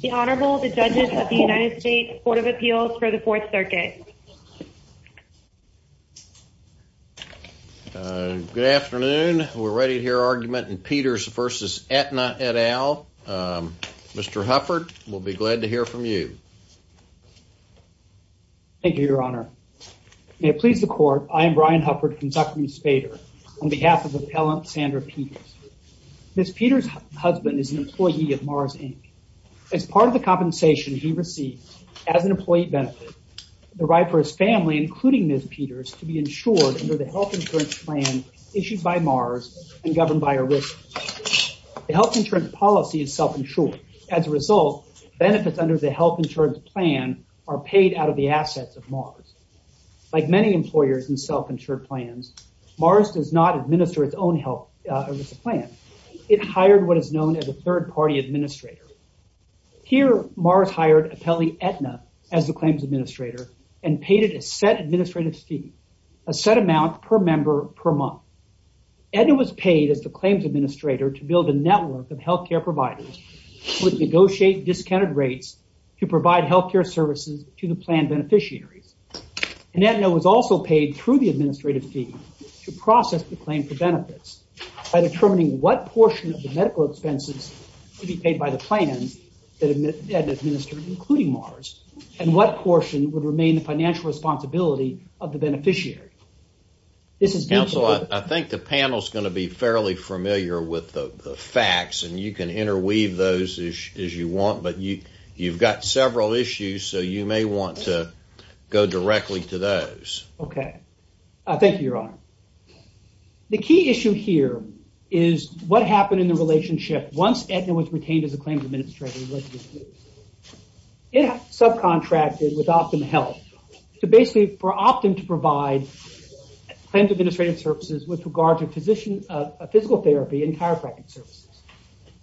The Honorable the Judges of the United States Court of Appeals for the Fourth Circuit. Good afternoon. We're ready to hear argument in Peters v. Aetna et al. Mr. Hufford, we'll be glad to hear from you. Thank you, Your Honor. May it please the Court, I am Brian Hufford from Zuckerman Spader on behalf of Appellant Sandra Peters. Ms. Peters' husband is an employee of Mars, Inc. As part of the compensation he received as an employee benefit, the right for his family, including Ms. Peters, to be insured under the health insurance plan issued by Mars and governed by a risk. The health insurance policy is self-insured. As a result, benefits under the health insurance plan are paid out of the assets of Mars. Like many employers in self-insured plans, Mars does not administer its own health insurance plan. It hired what is known as a third-party administrator. Here Mars hired Appellee Aetna as the claims administrator and paid it a set administrative fee, a set amount per member per month. Aetna was paid as the claims administrator to build a network of health care providers with negotiated discounted rates to provide health care services to the plan beneficiaries. Aetna was also paid through the administrative fee to process the claim for benefits by determining what portion of the medical expenses to be paid by the plans that Aetna administered, including Mars, and what portion would remain the financial responsibility of the beneficiary. Counsel, I think the panel is going to be fairly familiar with the facts, and you can interweave those as you want, but you've got several issues, so you may want to go directly to those. Okay. Thank you, Your Honor. The key issue here is what happened in the relationship once Aetna was retained as a claims administrator. It subcontracted with Optum Health to basically for Optum to provide claims administrative services with regard to physical therapy and chiropractic services.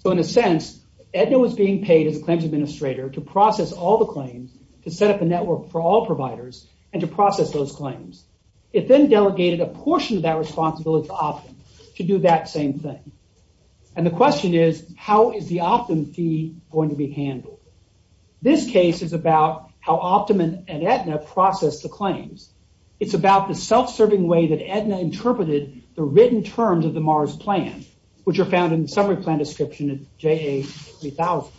In a sense, Aetna was being paid as a claims administrator to process all the claims, to set up a network for all providers, and to process those claims. It then delegated a portion of that responsibility to Optum to do that same thing. And the question is, how is the Optum fee going to be handled? This case is about how Optum and Aetna process the claims. It's about the self-serving way that Aetna interpreted the written terms of the Mars plan, which are found in the summary plan description of JA 3000.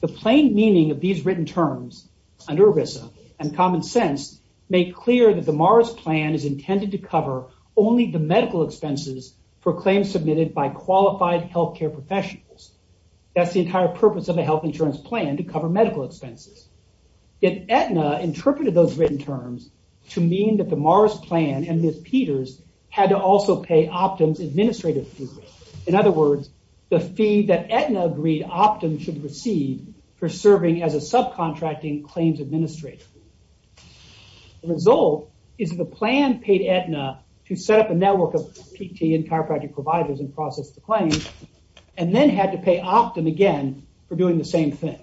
The plain meaning of these written terms under ERISA and common sense make clear that the Mars plan is intended to cover only the medical expenses for claims submitted by qualified healthcare professionals. That's the entire purpose of a health insurance plan to cover medical expenses. Yet Aetna interpreted those written terms to mean that the Mars plan and Ms. Peters had to also pay Optum's administrative fee. In other words, the fee that Aetna agreed Optum should receive for serving as a subcontracting claims administrator. The result is the plan paid Aetna to set up a network of PT and chiropractic providers and process the claims, and then had to pay Optum again for doing the same thing.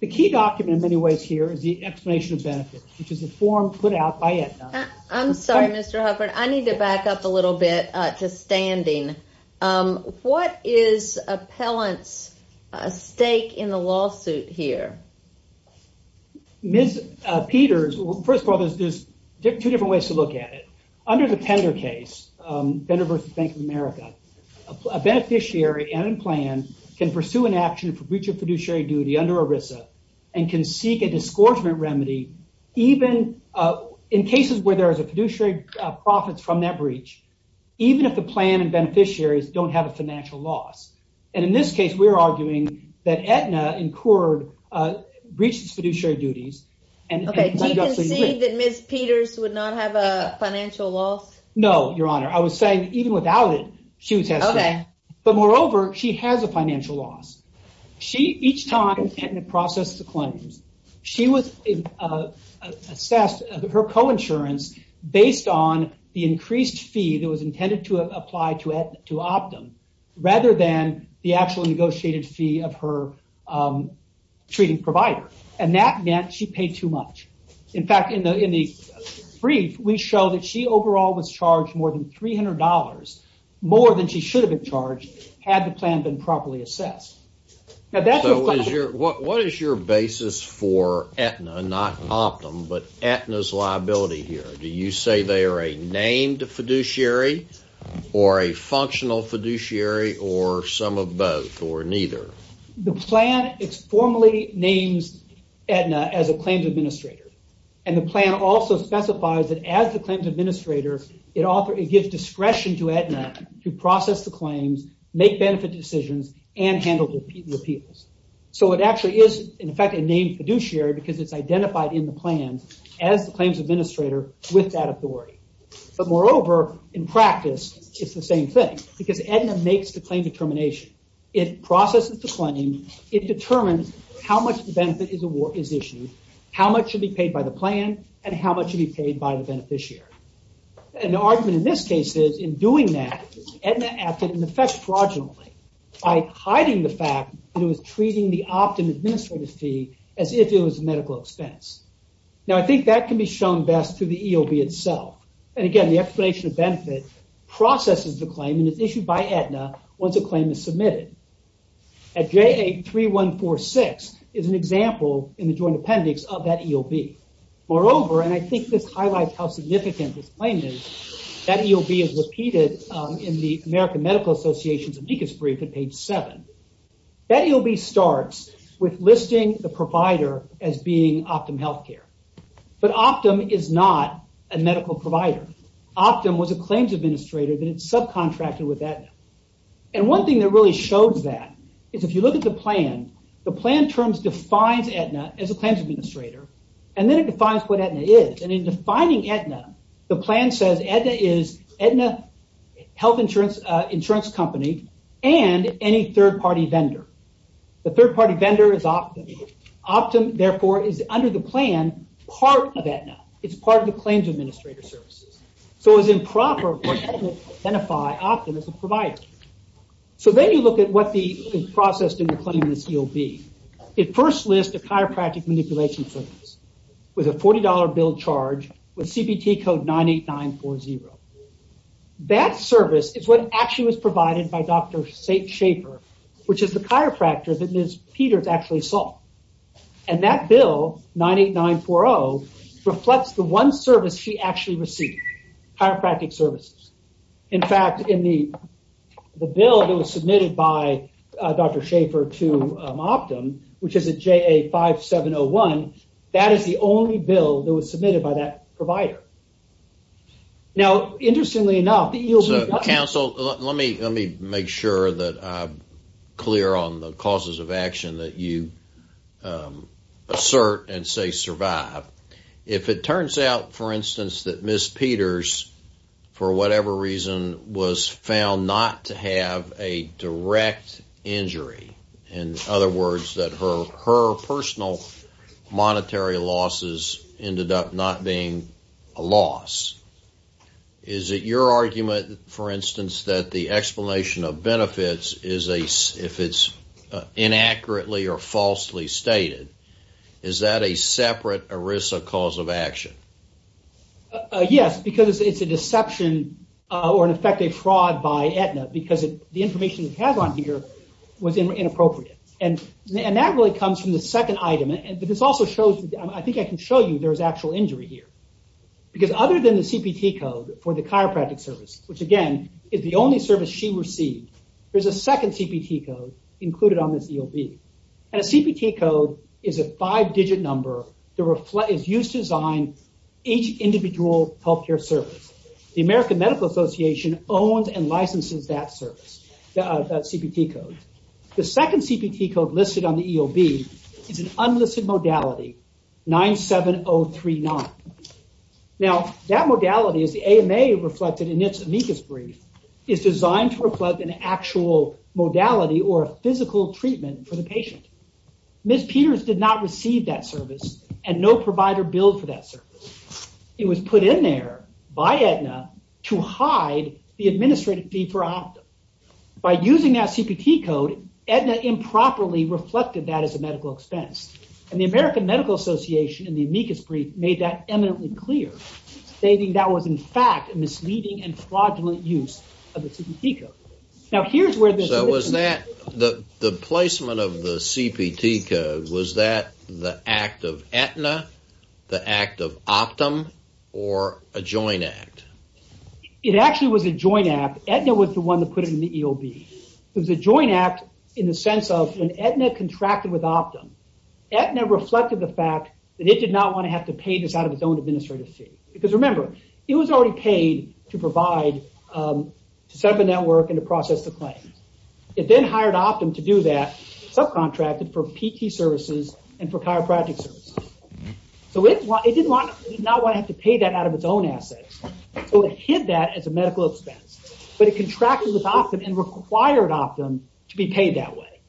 The key document in many ways here is the explanation of benefits, which is a form put out by Aetna. I'm sorry, Mr. Hufford. I need to back up a little bit to standing. What is appellant's stake in the lawsuit here? Ms. Peters, well, first of all, there's two different ways to look at it. Under the Pender case, Pender versus Bank of America, a beneficiary and plan can pursue an action for breach of where there is a fiduciary profits from that breach, even if the plan and beneficiaries don't have a financial loss. And in this case, we're arguing that Aetna incurred breaches fiduciary duties. Okay, do you concede that Ms. Peters would not have a financial loss? No, your honor. I was saying even without it, she would testify. But moreover, she has a financial loss. Each time Aetna processed the claims, she was assessed her co-insurance based on the increased fee that was intended to apply to Optum, rather than the actual negotiated fee of her treating provider. That meant she paid too much. In fact, in the brief, we show that she overall was charged more than $300, more than she should've been charged had the plan been properly assessed. What is your basis for Aetna, not Optum, but Aetna's liability here? Do you say they are a named fiduciary, or a functional fiduciary, or some of both, or neither? The plan formally names Aetna as a claims administrator. And the plan also specifies that as the claims administrator, it gives discretion to Aetna to process the claims, make benefit decisions, and handle the appeals. So it actually is, in fact, a named fiduciary because it's identified in the plan as the claims administrator with that authority. But moreover, in practice, it's the same thing. Because Aetna makes the claim determination. It processes the claim. It determines how much the benefit is issued, how much should be paid by the plan, and how much should be paid by the beneficiary. An argument in this case is, in doing that, Aetna acted in effect fraudulently by hiding the fact that it was treating the Optum administrative fee as if it was a medical expense. Now, I think that can be shown best through the EOB itself. And again, the explanation of benefit processes the claim and is issued by Aetna once a claim is submitted. At JA-3146 is an example in the joint appendix of that EOB. Moreover, and I think this highlights how significant this claim is, that EOB is repeated in the American Medical Association's amicus brief at page 7. That EOB starts with listing the provider as being Optum Healthcare. But Optum is not a medical provider. Optum was a claims administrator that it subcontracted with Aetna. And one thing that really shows that is if you look at the plan, the plan terms defines Aetna as a claims administrator, and then it defines what Aetna is. And in defining Aetna, the plan says Aetna is Aetna Health Insurance Company and any third-party vendor. The third-party vendor is Optum. Optum, therefore, is under the plan part of Aetna. It's part of the claims administrator services. So it's improper for Aetna to identify Optum as a provider. So then you look at what the process in the claim in this EOB. It first lists a chiropractic manipulation service with a $40 bill charge with CBT code 98940. That service is what actually was provided by Dr. St. Schaefer, which is the chiropractor that Ms. Peters actually saw. And that bill, 98940, reflects the one service she actually received, chiropractic services. In fact, in the bill that was submitted by Dr. Schaefer to Optum, which is a JA5701, that is the only bill that was submitted by that provider. Now, interestingly enough, the EOB doesn't So let me make sure that I'm clear on the causes of action that you assert and say survive. If it turns out, for instance, that Ms. Peters, for whatever reason, was found not to have a direct injury, in other words, that her personal monetary losses ended up not being a loss, is it your argument, for instance, that the explanation of benefits, if it's inaccurately or falsely stated, is that a separate ERISA cause of action? Yes, because it's a deception or in effect a fraud by Aetna because the information it has on here was inappropriate. And that really comes from the second item. But this also shows, I think I can show you there's actual injury here. Because other than the CPT code for the chiropractic service, which again, is the only service she received, there's a second CPT code included on this EOB. And a CPT code is a five-digit number that is used to design each individual healthcare service. The American Medical Association owns and licenses that service, that CPT code. The second CPT code listed on the EOB is an unlisted modality, 97039. Now, that modality is the AMA reflected in its amicus brief, is designed to reflect an actual modality or a physical treatment for the patient. Ms. Peters did not receive that service and no provider billed for that service. It was put in there by Aetna to hide the administrative fee for optum. By using that CPT code, Aetna improperly reflected that as a medical expense. And the American Medical Association in the amicus brief made that eminently clear, stating that was in fact a misleading and fraudulent use of the CPT code. Now, here's where this... So was that, the placement of the CPT code, was that the act of Aetna, the act of optum, or a joint act? It actually was a joint act. Aetna was the one that put it in the EOB. It was a joint act in the sense of when Aetna contracted with optum, Aetna reflected the fact that it did not want to have to pay this out of its own administrative fee. Because remember, it was already paid to provide, to set up a network and to process the claims. It then hired optum to do that, subcontracted for PT services and for chiropractic services. So it did not want to have to pay that out of its own assets. So it hid that as a medical expense, but it contracted with optum and required optum to be paid that way.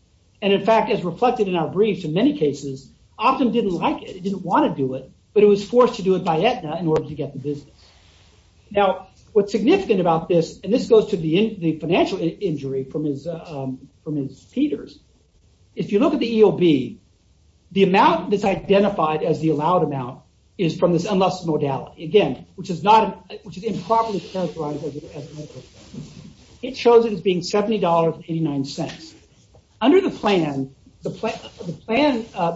And in fact, as reflected in our briefs, in many cases, optum didn't like it. It didn't want to do it, but it was forced to do it by Aetna in order to get the business. Now, what's significant about this, and this goes to the financial injury from his Peters. If you look at the EOB, the amount that's identified as the allowed amount is from this Again, which is improperly characterized as a medical expense. It shows it as being $70.89. Under the plan,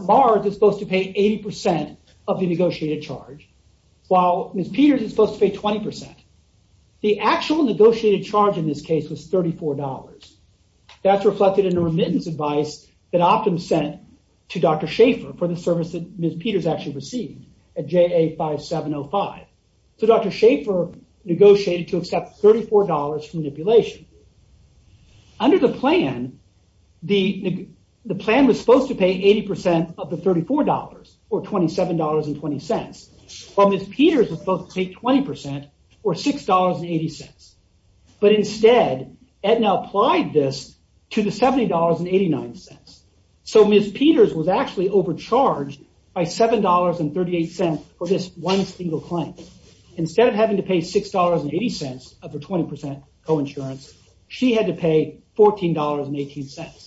Mars is supposed to pay 80% of the negotiated charge, while Ms. Peters is supposed to pay 20%. The actual negotiated charge in this case was $34. That's reflected in a remittance advice that optum sent to Dr. Schaefer for the service that Ms. Peters actually received at JA 5705. So Dr. Schaefer negotiated to accept $34 for manipulation. Under the plan, the plan was supposed to pay 80% of the $34, or $27.20, while Ms. Peters was supposed to pay 20%, or $6.80. But instead, Aetna applied this to the $70.89. So Ms. Peters was actually overcharged by $7.38 for this one single claim. Instead of having to pay $6.80 of her 20% co-insurance, she had to pay $14.18.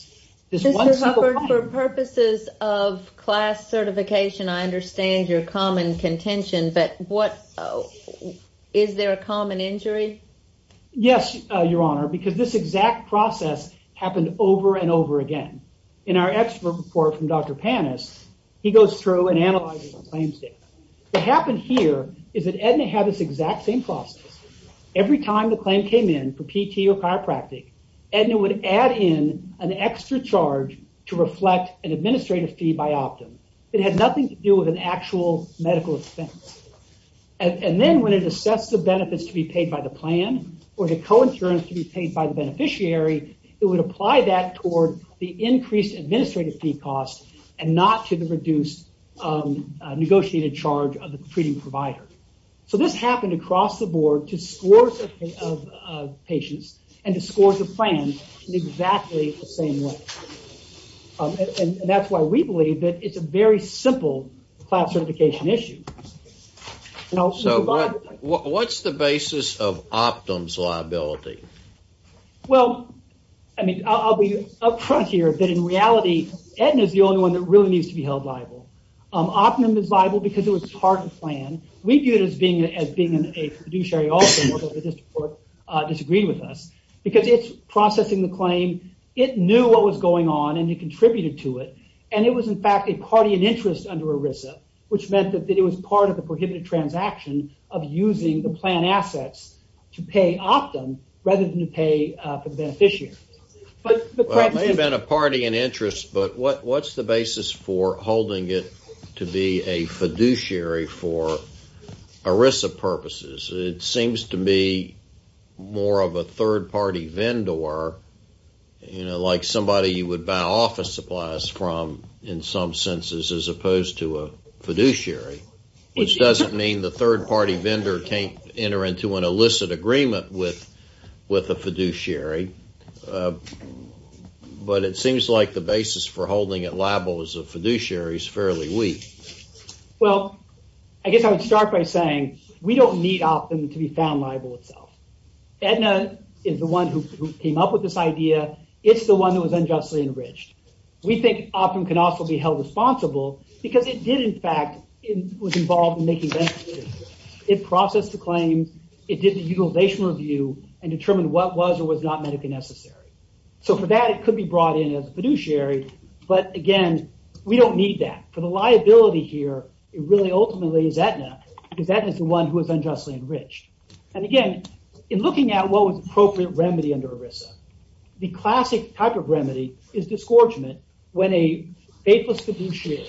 Ms. Hubbard, for purposes of class certification, I understand your common contention, but is there a common injury? Yes, Your Honor, because this exact process happened over and over again. In our expert report from Dr. Panis, he goes through and analyzes the claims data. What happened here is that Aetna had this exact same process. Every time the claim came in for PT or chiropractic, Aetna would add in an extra charge to reflect an administrative fee by optum. It had nothing to do with an actual medical expense. And then when it assessed the benefits to be paid by the plan, or the co-insurance to be paid by the beneficiary, it would apply that toward the increased administrative fee cost and not to the reduced negotiated charge of the treating provider. So this happened across the board to scores of patients and to scores of plans in exactly the same way. And that's why we believe that it's a very simple class certification issue. What's the basis of optum's liability? Well, I'll be up front here, but in reality, Aetna is the only one that really needs to be held liable. Optum is liable because it was part of the plan. We view it as being a fiduciary also, but the district court disagreed with us. Because it's processing the claim, it knew what was going on and it contributed to it. And it was in fact a party in interest under ERISA, which meant that it was part of the prohibited transaction of using the plan assets to pay optum rather than to pay for the beneficiary. It may have been a party in interest, but what's the basis for holding it to be a fiduciary for ERISA purposes? It seems to me more of a third party vendor, like somebody you would buy office supplies from in some senses as opposed to a fiduciary, which doesn't mean the third party vendor can't enter into an illicit agreement with a fiduciary. But it seems like the basis for holding it liable as a fiduciary is fairly weak. Well, I guess I would start by saying we don't need optum to be found liable itself. Aetna is the one who came up with this idea. It's the one that was unjustly enriched. We think optum can also be held responsible because it did in fact was involved in making benefits. It processed the claims. It did the utilization review and determined what was or was not medically necessary. So for that, it could be brought in as a fiduciary, but again, we don't need that. For the liability here, it really ultimately is Aetna because Aetna is the one who was unjustly enriched. And again, in looking at what was appropriate remedy under ERISA, the classic type of remedy is disgorgement when a faithless fiduciary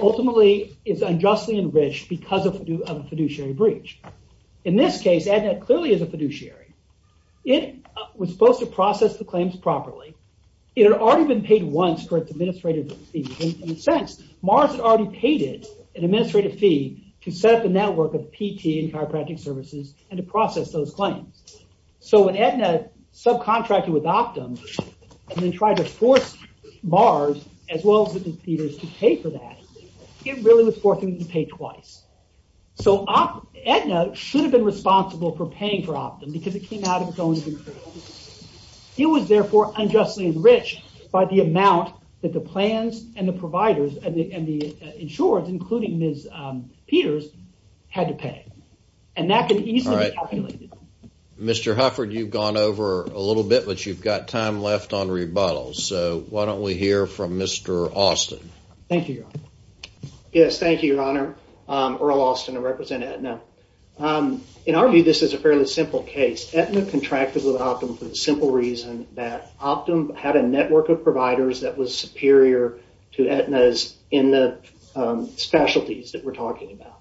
ultimately is unjustly enriched because of a fiduciary breach. In this case, Aetna clearly is a fiduciary. It was supposed to process the claims properly. It had already been paid once for its administrative fees. In a sense, Mars had already paid it an administrative fee to set up a network of PT and chiropractic services and to process those claims. So when Aetna subcontracted with optum and then tried to force Mars as well as Ms. Peters to pay for that, it really was forcing them to pay twice. So Aetna should have been responsible for paying for optum because it came out of its own control. It was therefore unjustly enriched by the amount that the plans and the providers and the insurers, including Ms. Peters, had to pay. And that could easily be calculated. Mr. Hufford, you've gone over a little bit, but you've got time left on rebuttals. So why don't we hear from Mr. Austin. Thank you, Your Honor. Yes, thank you, Your Honor. Earl Austin, I represent Aetna. In our view, this is a fairly simple case. Aetna contracted with optum for the simple reason that optum had a network of providers that was superior to Aetna's in the specialties that we're talking about.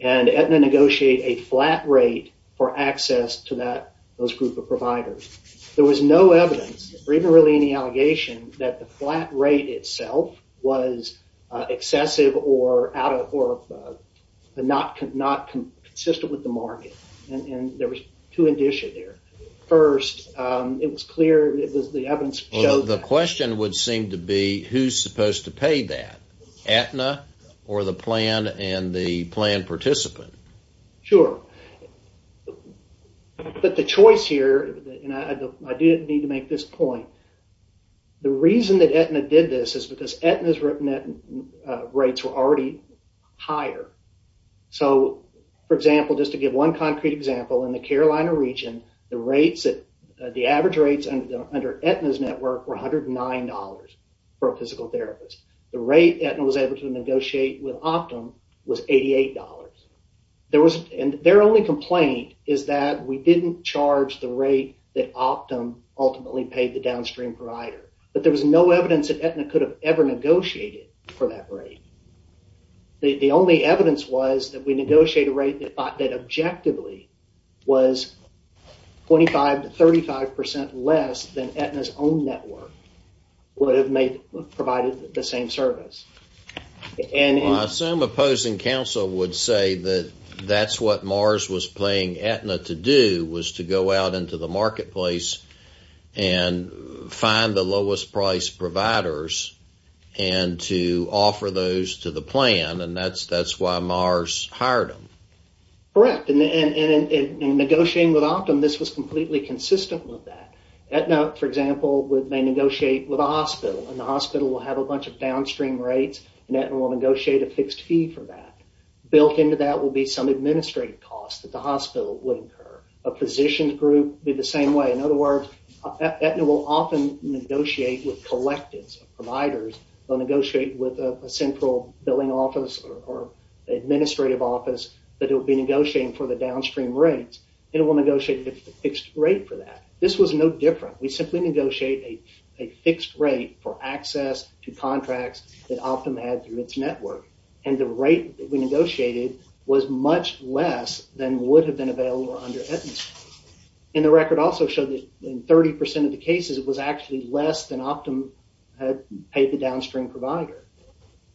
And Aetna negotiated a flat rate for access to those group of providers. There was no evidence or even really any allegation that the flat rate itself was excessive or not consistent with the market. And there was two indicia there. First, it was clear, it would seem to be, who's supposed to pay that? Aetna or the plan and the plan participant? Sure. But the choice here, and I do need to make this point, the reason that Aetna did this is because Aetna's rates were already higher. So, for example, just to give one concrete example, in the Carolina region, the rates, the average rates under Aetna's network were $109 for a physical therapist. The rate Aetna was able to negotiate with optum was $88. And their only complaint is that we didn't charge the rate that optum ultimately paid the downstream provider. But there was no evidence that Aetna could have ever negotiated for that rate. The only evidence was that we negotiated a rate that objectively was 25-35% less than Aetna's own network would have provided the same service. Well, some opposing counsel would say that that's what Mars was paying Aetna to do was to go out into the marketplace and find the lowest price providers and to offer those to the plan, and that's why Mars hired them. Correct. And in negotiating with optum, this was completely consistent with that. Aetna, for example, may negotiate with a hospital, and the hospital will have a bunch of downstream rates, and Aetna will negotiate a fixed fee for that. Built into that will be some administrative costs that the hospital would incur. A physician group would be the same way. In other words, Aetna will often negotiate with collectives of providers. They'll negotiate with a central billing office or administrative office, but it will be negotiating for the downstream rates, and it will negotiate a fixed rate for that. This was no different. We simply negotiate a fixed rate for access to contracts that optum had through its network, and the rate that we negotiated was much less than would have been available under Aetna's. And the record also showed that in 30% of the cases, it was actually less than optum had paid the downstream provider.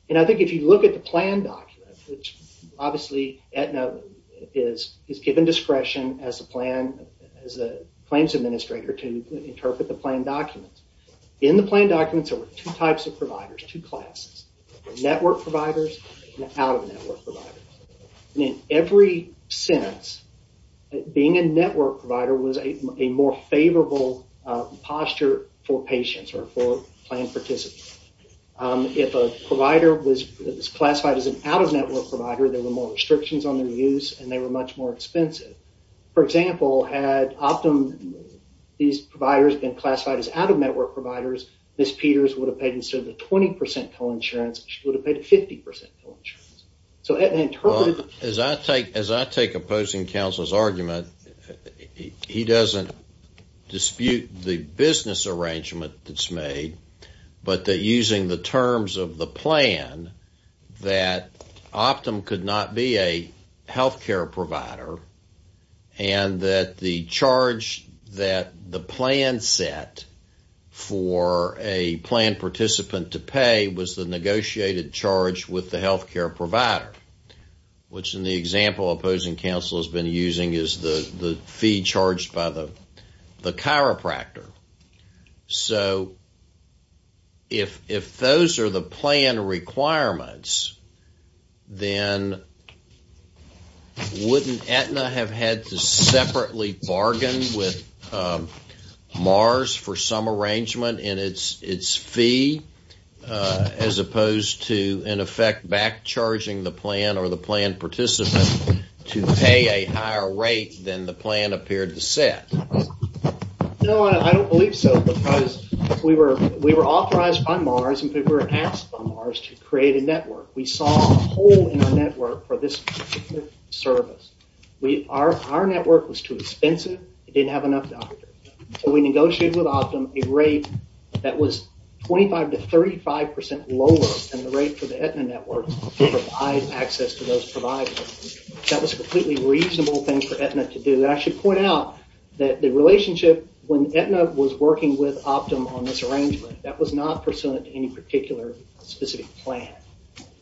And I think if you look at the plan document, which obviously Aetna is given discretion as a plan, as a claims administrator to interpret the plan documents. In the plan documents, there were two types of providers, two classes, network providers and out-of-network providers. And in every sense, being a network provider was a more favorable posture for patients or for plan participants. If a provider was classified as an out-of-network provider, there were more restrictions on their use, and they were much more expensive. For example, had optum, these providers been classified as out-of-network providers, Ms. Peters would have paid instead of the 20% co-insurance, she would have paid a 50% co-insurance. As I take opposing counsel's argument, he doesn't dispute the business arrangement that's made, but that using the terms of the plan, that optum could not be a healthcare provider, and that the charge that the plan set for a plan participant to charge with the healthcare provider, which in the example opposing counsel has been using is the fee charged by the chiropractor. So if those are the plan requirements, then wouldn't Aetna have had to separately bargain with Mars for some arrangement in its fee, as opposed to in effect back charging the plan or the plan participant to pay a higher rate than the plan appeared to set? No, I don't believe so, because we were authorized by Mars and we were asked by Mars to create a network. We saw a hole in our network for this particular service. Our network was too expensive, it didn't have enough doctors. We negotiated with optum a rate that was 25% to 35% lower than the rate for the Aetna network to provide access to those providers. That was a completely reasonable thing for Aetna to do. I should point out that the relationship when Aetna was working with optum on this arrangement, that was not pursuant to any particular specific plan.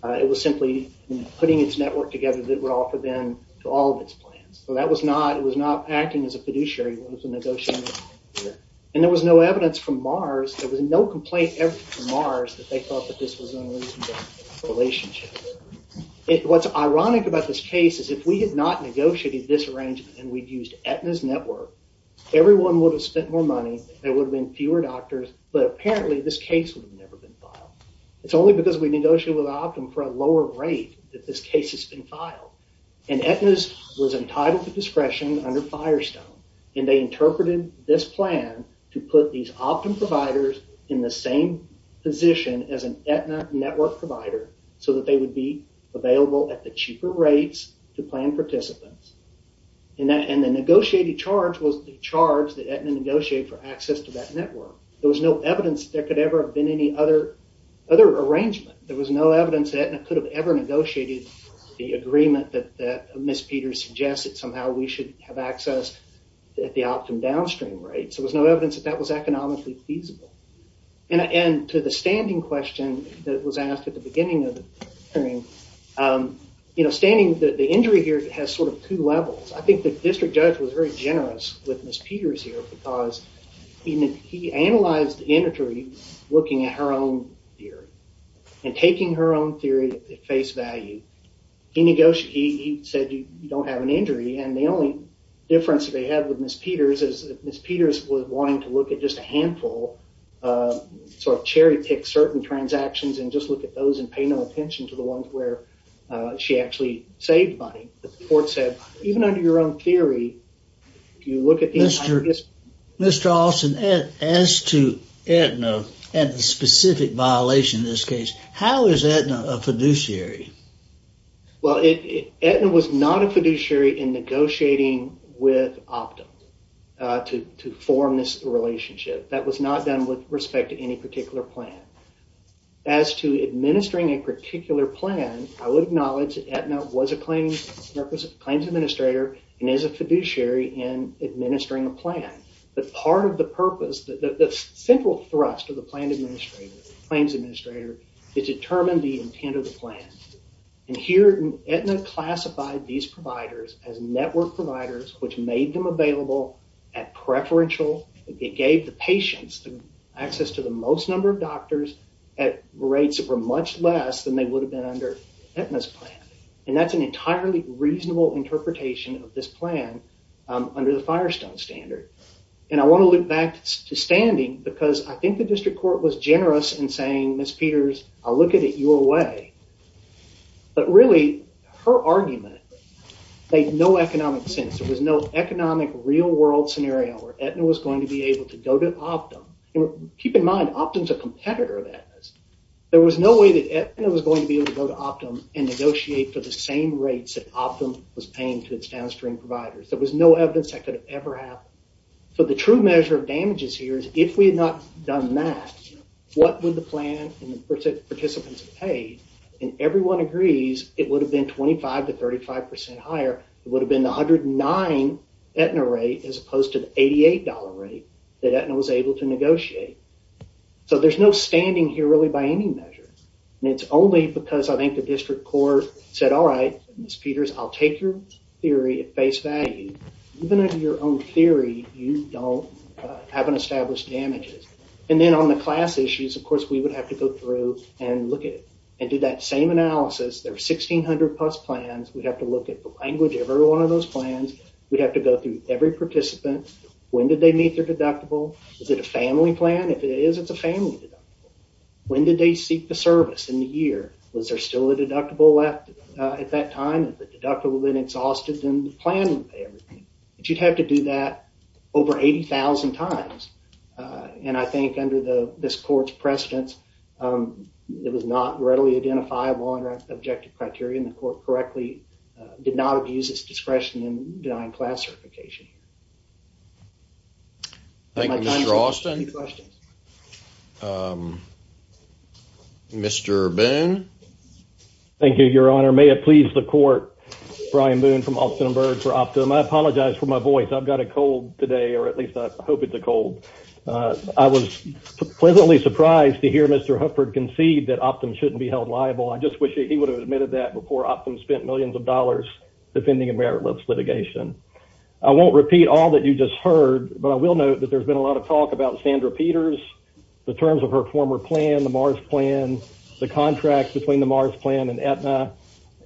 It was simply putting its network together that would offer them to all of its plans. So that was not acting as a fiduciary when it was negotiated. And there was no evidence from Mars, there was no complaint from Mars that they thought that this was unreasonable relationship. What's ironic about this case is if we had not negotiated this arrangement and we'd used Aetna's network, everyone would have spent more money, there would have been fewer doctors, but apparently this case would have never been filed. It's only because we negotiated with optum for a lower rate that this case has been filed. And Aetna was entitled to a milestone, and they interpreted this plan to put these optum providers in the same position as an Aetna network provider so that they would be available at the cheaper rates to plan participants. And the negotiated charge was the charge that Aetna negotiated for access to that network. There was no evidence there could ever have been any other arrangement. There was no evidence that Aetna could have ever negotiated the agreement that Ms. Peters suggested somehow we should have access at the optum downstream rates. There was no evidence that that was economically feasible. And to the standing question that was asked at the beginning of the hearing, standing, the injury here has sort of two levels. I think the district judge was very generous with Ms. Peters here because he analyzed the injury looking at her own theory and taking her own theory at face value. He said you don't have an injury, and the only difference they had with Ms. Peters is that Ms. Peters was wanting to look at just a handful, sort of cherry pick certain transactions and just look at those and pay no attention to the ones where she actually saved money. The court said even under your own theory, if you look at... Mr. Alston, as to Aetna and the specific violation in this case, how is Aetna a fiduciary? Well, Aetna was not a fiduciary in negotiating with Optum to form this relationship. That was not done with respect to any particular plan. As to administering a plan, it is a fiduciary in administering a plan. But part of the purpose, the central thrust of the plan administrator, claims administrator, is to determine the intent of the plan. And here Aetna classified these providers as network providers, which made them available at preferential... It gave the patients access to the most number of doctors at rates that were much less than they would have been under Aetna's plan. And that's an entirely reasonable interpretation of this plan under the Firestone standard. And I want to look back to standing because I think the district court was generous in saying, Ms. Peters, I'll look at it your way. But really, her argument made no economic sense. There was no economic real-world scenario where Aetna was going to be able to go to Optum. Keep in mind, Optum's a competitor of Aetna's. There was no way that Aetna was going to be able to go to Optum and negotiate for the same rates that Optum was downstream providers. There was no evidence that could have ever happened. So the true measure of damages here is if we had not done that, what would the plan and the participants have paid? And everyone agrees it would have been 25 to 35 percent higher. It would have been the 109 Aetna rate as opposed to the $88 rate that Aetna was able to negotiate. So there's no standing here really by any measure. And it's only because I think the district court said, all right, Ms. Peters, you have a degree at face value. Even in your own theory, you don't have an established damages. And then on the class issues, of course, we would have to go through and look at it and do that same analysis. There are 1,600 PUS plans. We'd have to look at the language of every one of those plans. We'd have to go through every participant. When did they meet their deductible? Is it a family plan? If it is, it's a family deductible. When did they seek the service in the year? Was there still a deductible left at that time? If the deductible had been exhausted, then the plan would pay everything. But you'd have to do that over 80,000 times. And I think under this court's precedence, it was not readily identifiable under objective criteria and the court correctly did not abuse its discretion in denying class certification. Thank you, Mr. Austin. Mr. Boone. Thank you, Your Honor. May it please the court, Brian Boone from Austin and Byrd for Optum. I apologize for my voice. I've got a cold today, or at least I hope it's a cold. I was pleasantly surprised to hear Mr. Hufford concede that Optum shouldn't be held liable. I just wish he would have admitted that before Optum spent millions of dollars defending a meritless litigation. I won't repeat all that you just heard, but I will note that there's been a lot of talk about Sandra Peters, the terms of her former plan, the Mars plan, the contract between the Mars plan and Aetna,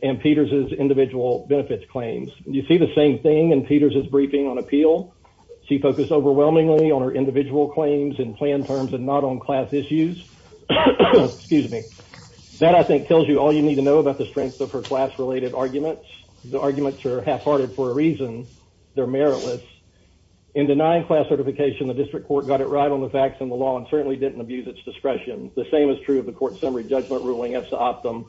and Peters' individual benefits claims. You see the same thing in Peters' briefing on appeal. She focused overwhelmingly on her individual claims and plan terms and not on class issues. That, I think, tells you all you need to know about the strength of her class-related arguments. The arguments are half-hearted for a reason. They're meritless. In denying class certification, the district court got it right on the facts and the law and certainly didn't abuse its discretion. The same is true of the court summary judgment ruling as to Optum.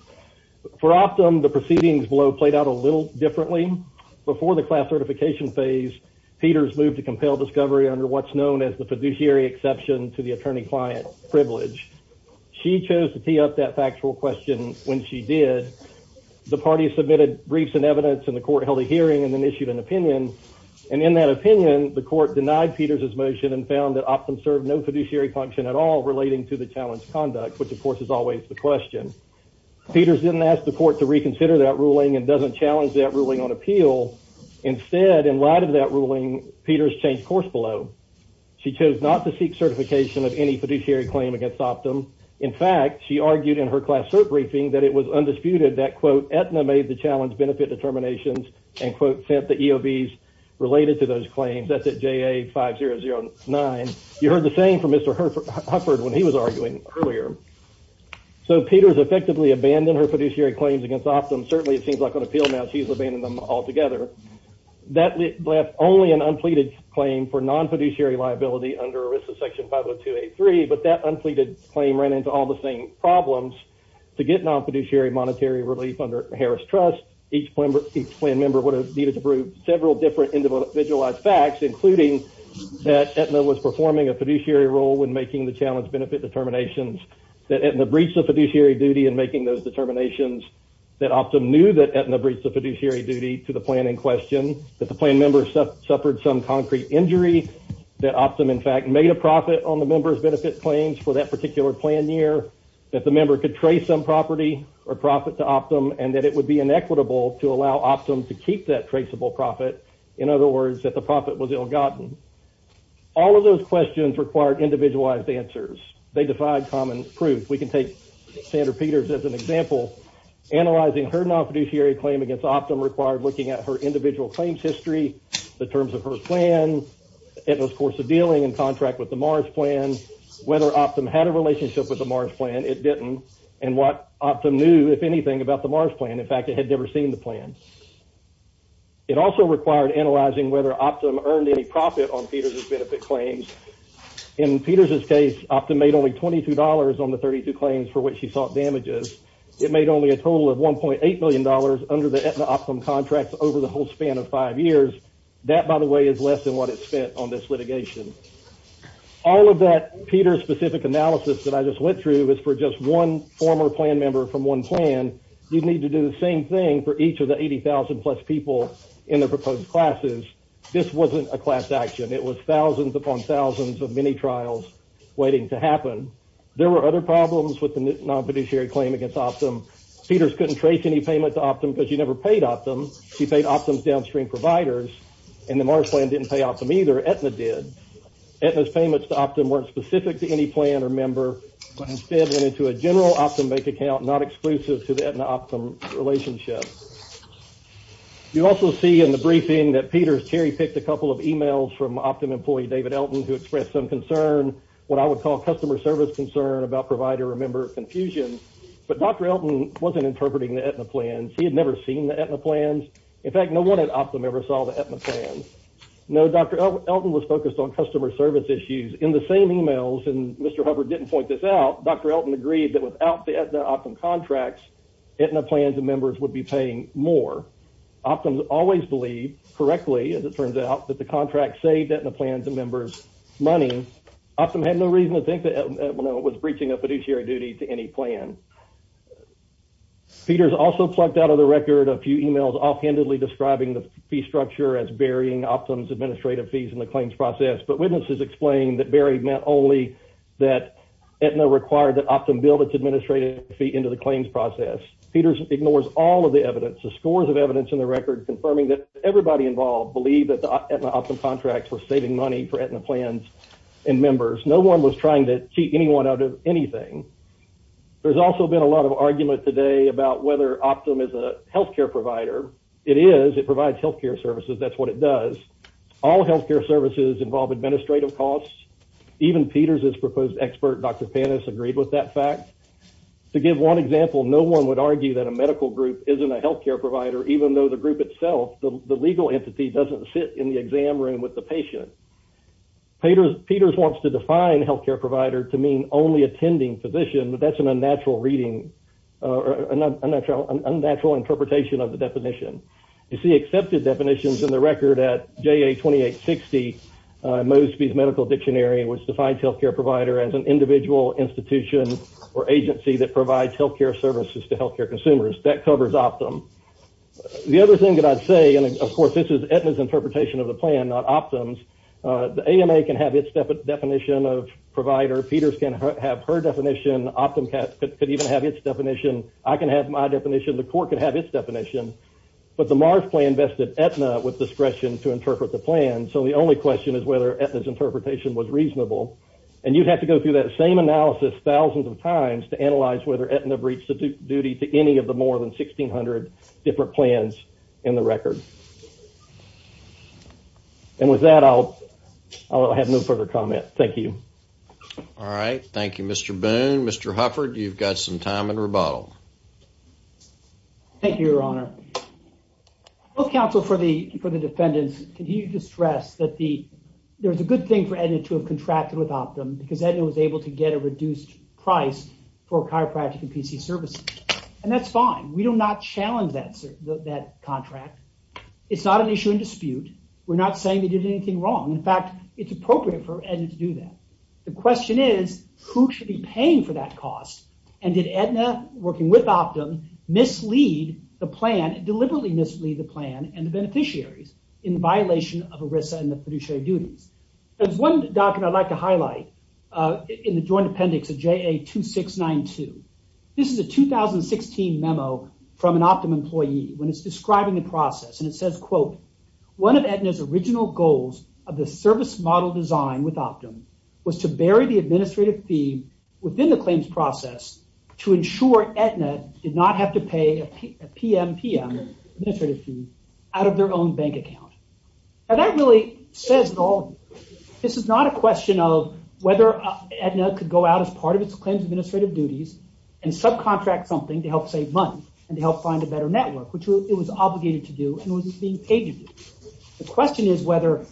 For Optum, the proceedings below played out a little differently. Before the class certification phase, Peters moved to compel discovery under what's known as the fiduciary exception to the attorney-client privilege. She chose to tee up that factual question when she did. The party submitted briefs and evidence and the court held a hearing and then issued an opinion. In that opinion, the court denied Peters' motion and found that Optum served no fiduciary function at all relating to the challenge conduct, which of course is always the question. Peters didn't ask the court to reconsider that ruling and doesn't challenge that ruling on appeal. Instead, in light of that ruling, Peters changed course below. She chose not to seek certification of any fiduciary claim against Optum. In fact, she argued in her class cert briefing that it was undisputed that, quote, Aetna made the challenge benefit determinations and, quote, sent the EOBs related to those claims. That's at JA5009. You heard the same from Mr. Hufford when he was arguing earlier. So, Peters effectively abandoned her fiduciary claims against Optum. Certainly, it seems like on appeal now she's abandoned them altogether. That left only an unpleaded claim for non-fiduciary liability under ERISA section 50283, but that unpleaded claim ran into all the same problems. To get non-fiduciary monetary relief under Harris Trust, each plan member would have needed to prove several different individualized facts, including that Aetna was performing a fiduciary role when making the challenge benefit determinations, that Aetna breached the fiduciary duty in making those determinations, that Optum knew that Aetna breached the fiduciary duty to the plan in question, that the plan member suffered some concrete injury, that Optum, in fact, made a profit on the member's benefit claims for that particular plan year, that the member could trace some property or profit to Optum, and that it would be inequitable to allow Optum to keep that traceable profit. In other words, that the profit was ill-gotten. All of those questions required individualized answers. They defied common proof. If we can take Sandra Peters as an example, analyzing her non-fiduciary claim against Optum required looking at her individual claims history, the terms of her plan, Aetna's course of dealing and contract with the Mars plan, whether Optum had a relationship with the Mars plan, it didn't, and what Optum knew, if anything, about the Mars plan. In fact, it had never seen the plan. It also required analyzing whether Optum earned any profit on Peters' benefit claims. In Peters' case, Optum made only $22 on the 32 claims for which she sought damages. It made only a total of $1.8 million under the Aetna-Optum contract over the whole span of five years. That, by the way, is less than what it spent on this litigation. All of that Peters-specific analysis that I just went through is for just one former plan member from one plan. You'd need to do the same thing for each of the 80,000-plus people in the proposed classes. This wasn't a class action. It was thousands upon thousands of mini-trials waiting to happen. There were other problems with the non-fiduciary claim against Optum. Peters couldn't trace any payment to Optum because she never paid Optum. She paid Optum's downstream providers, and the Mars plan didn't pay Optum either. Aetna did. Aetna's payments to Optum weren't specific to any plan or member, but instead went into a general Optum bank account, not exclusive to the Aetna-Optum relationship. You also see in the briefing that Peters cherry-picked a couple of emails from Optum employee David Elton who expressed some concern, what I would call customer service concern, about provider-member confusion. But Dr. Elton wasn't interpreting the Aetna plans. He had never seen the Aetna plans. In fact, no one at Optum ever saw the Aetna plans. No, Dr. Elton was focused on customer service issues. In the same emails, and Mr. Hubbard didn't point this out, Dr. Elton agreed that without the Aetna-Optum contracts, Aetna plans and members would be paying more. Optum always believed, correctly, as it turns out, that the contracts saved Aetna plans and members money. Optum had no reason to think that Aetna was breaching a fiduciary duty to any plan. Peters also plucked out of the record a few emails offhandedly describing the fee structure as burying Optum's administrative fees in the claims process, but witnesses explained that buried meant only that Aetna required that Optum build its administrative fee into the claims process. Peters ignores all of the evidence, the scores of evidence in the record confirming that everybody involved believed that the Aetna-Optum contracts were saving money for Aetna plans and members. No one was trying to cheat anyone out of anything. There's also been a lot of argument today about whether Optum is a healthcare provider. It is. It provides healthcare services. That's what it does. All healthcare services involve administrative costs. Even Peters' proposed expert, Dr. Pantus, agreed with that fact. To give one example, no one would argue that a medical group isn't a healthcare provider, even though the group itself, the legal entity, doesn't sit in the exam room with the patient. Peters wants to define healthcare provider to mean only attending physician, but that's an unnatural reading, or an unnatural interpretation of the definition. You see accepted definitions in the record at JA 2860, Mosby's Medical Dictionary, which defines healthcare provider as an individual institution or agency that provides healthcare services to healthcare consumers. That covers Optum. The other thing that I'd say, and of course this is Aetna's interpretation of the plan, not Optum's, the AMA can have its definition of provider. Peters can have her definition. Optum could even have its definition. I can have my definition. The court could have its definition. But the Mars plan vested Aetna with discretion to interpret the plan, so the only question is whether Aetna's interpretation was reasonable. And you'd have to go through that same analysis thousands of times to analyze whether Aetna breached the duty to any of the more than 1,600 different plans in the record. And with that, I'll have no further comment. Thank you. All right. Thank you, Mr. Boone. Mr. Hufford, you've got some time in rebuttal. Thank you, Your Honor. Both counsel for the defendants continue to stress that there's a good thing for Aetna to have contracted with Optum because Aetna was able to get a reduced price for chiropractic and PC services. And that's fine. We do not challenge that contract. It's not an issue in dispute. We're not saying they did anything wrong. In fact, it's appropriate for Aetna to do that. The question is, who should be paying for that cost, and did Aetna, working with Optum, deliberately mislead the plan and the beneficiaries in violation of ERISA and the fiduciary duties? There's one document I'd like to highlight in the Joint Appendix of JA-2692. This is a 2016 memo from an Optum employee when it's describing the process, and it says, quote, one of Aetna's original goals of the service model design with Optum was to bury the administrative fee within the claims process to ensure Aetna did not have to pay a PM-PM administrative fee out of their own bank account. Now that really says it all. This is not a question of whether Aetna could go out as part of its claims administrative duties and subcontract something to help save money and to help find a better network, which it was obligated to do and was being paid to do. The question is whether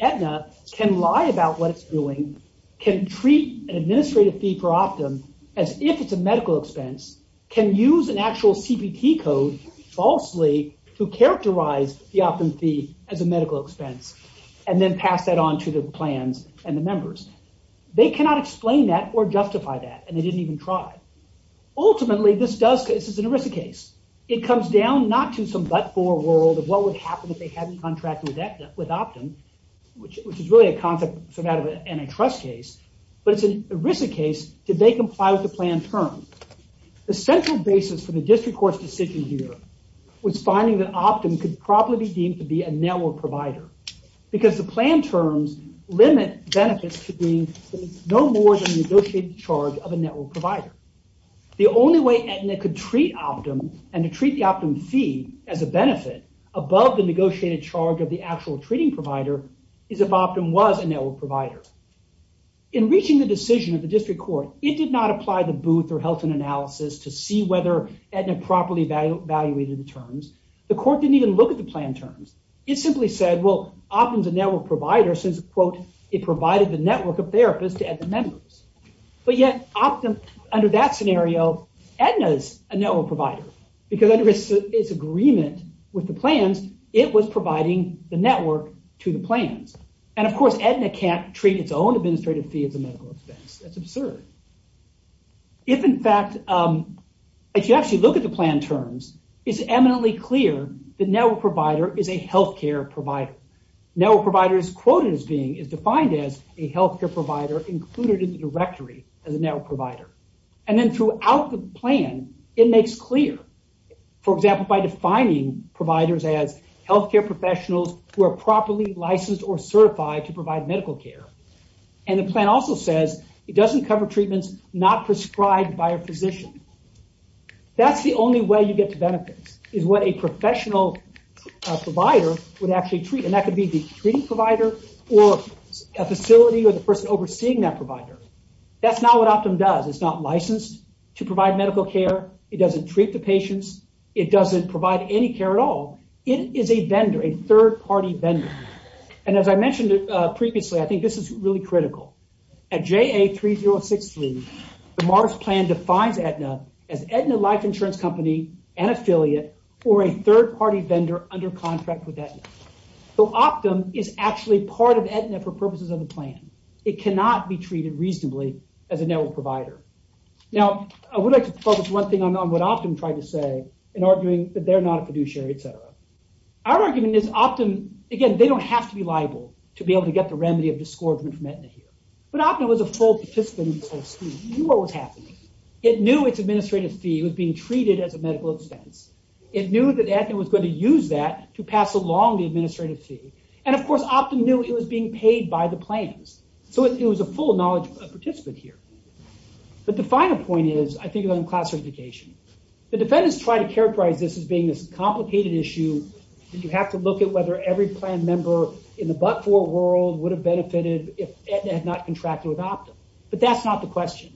Aetna can lie about what it's doing, can treat an administrative fee for Optum as if it's a medical expense, can use an actual CPT code falsely to characterize the Optum fee as a medical expense, and then pass that on to the plans and the members. They cannot explain that or justify that, and they didn't even try. Ultimately, this is an ERISA case. It comes down not to some but-for world of what would happen if they hadn't contracted with Optum, which is really a concept from an antitrust case, but it's an ERISA case. The central basis for the district court's decision here was finding that Optum could probably be deemed to be a network provider because the plan terms limit benefits to being no more than the negotiated charge of a network provider. The only way Aetna could treat Optum and to treat the Optum fee as a benefit above the negotiated charge of the actual treating provider is if Optum was a network provider. In reaching the decision of the district court, it did not apply the Booth or Helton analysis to see whether Aetna properly evaluated the terms. The court didn't even look at the plan terms. It simply said, well, Optum's a network provider since, quote, it provided the network of therapists to Aetna members. Yet, Optum, under that scenario, Aetna's a network provider because under its agreement with the plans, it was providing the network to the plans. Of course, Aetna can't treat its own administrative fee as a medical expense. That's absurd. If, in fact, if you actually look at the plan terms, it's eminently clear that network provider is a healthcare provider. Network provider is defined as a healthcare provider included in the directory as a network provider. Then throughout the plan, it makes clear, for example, by defining providers as healthcare professionals who are properly licensed or certified to provide medical care. The plan also says it doesn't cover treatments not prescribed by a physician. That's the only way you get to benefits is what a professional provider would actually treat. That could be the treating provider or a facility or the person overseeing that provider. That's not what Optum does. It's not licensed to provide medical care. It doesn't treat the patients. It doesn't provide any care at all. It is a vendor, a third-party vendor. As I mentioned previously, I think this is really critical. At JA3063, the MARS plan defines Aetna as Aetna Life Insurance Company and affiliate or a third-party vendor under contract with Aetna. Optum is actually part of Aetna for purposes of the plan. It cannot be treated reasonably as a network provider. Now, I would like to focus one thing on what Optum tried to say in arguing that they're not a fiduciary, etc. Our argument is Optum, again, they don't have to be liable to be able to get the remedy of disgorgement from Aetna here. But Optum was a full participant. It knew what was happening. It knew its administrative fee was being treated as a medical expense. It knew that Aetna was going to use that to pass along the administrative fee. And, of course, Optum knew it was being paid by the plans. So it was a full knowledge participant here. But the final point is, I think, on class certification. The defendants try to characterize this as being this complicated issue. You have to look at whether every plan member in the but-for world would have benefited if Aetna had not contracted with Optum. But that's not the question.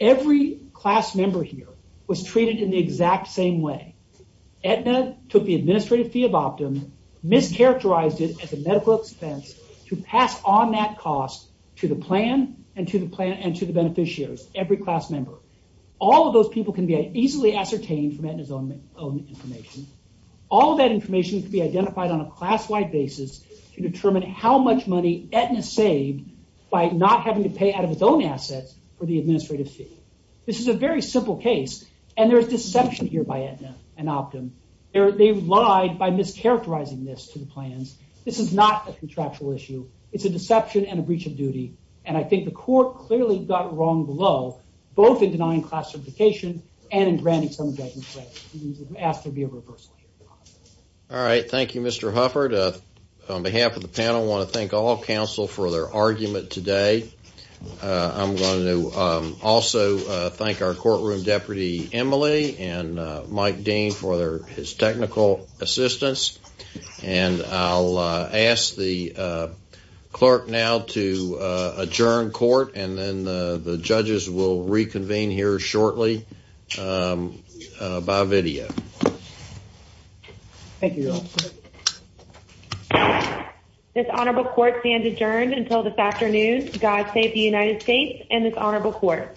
Every class member here was treated in the exact same way. Aetna took the administrative fee of Optum, mischaracterized it as a medical expense to pass on that cost to the plan and to the beneficiaries, every class member. All of those people can be easily ascertained from Aetna's own information. All of that information can be identified on a class-wide basis to determine how much money Aetna saved by not having to pay out of its own assets for the administrative fee. This is a very simple case, and there is deception here by Aetna and Optum. They lied by mischaracterizing this to the plans. This is not a contractual issue. It's a deception and a breach of duty. And I think the court clearly got wrong below, both in denying class certification and in granting some of the judgments. I ask there be a reversal. All right. Thank you, Mr. Hufford. On behalf of the panel, I want to thank all counsel for their argument today. I'm going to also thank our courtroom deputy, Emily, and Mike Dean for his technical assistance. And I'll ask the clerk now to adjourn court, and then the judges will reconvene here shortly. By video. Thank you. This honorable court stands adjourned until this afternoon. God save the United States and this honorable court.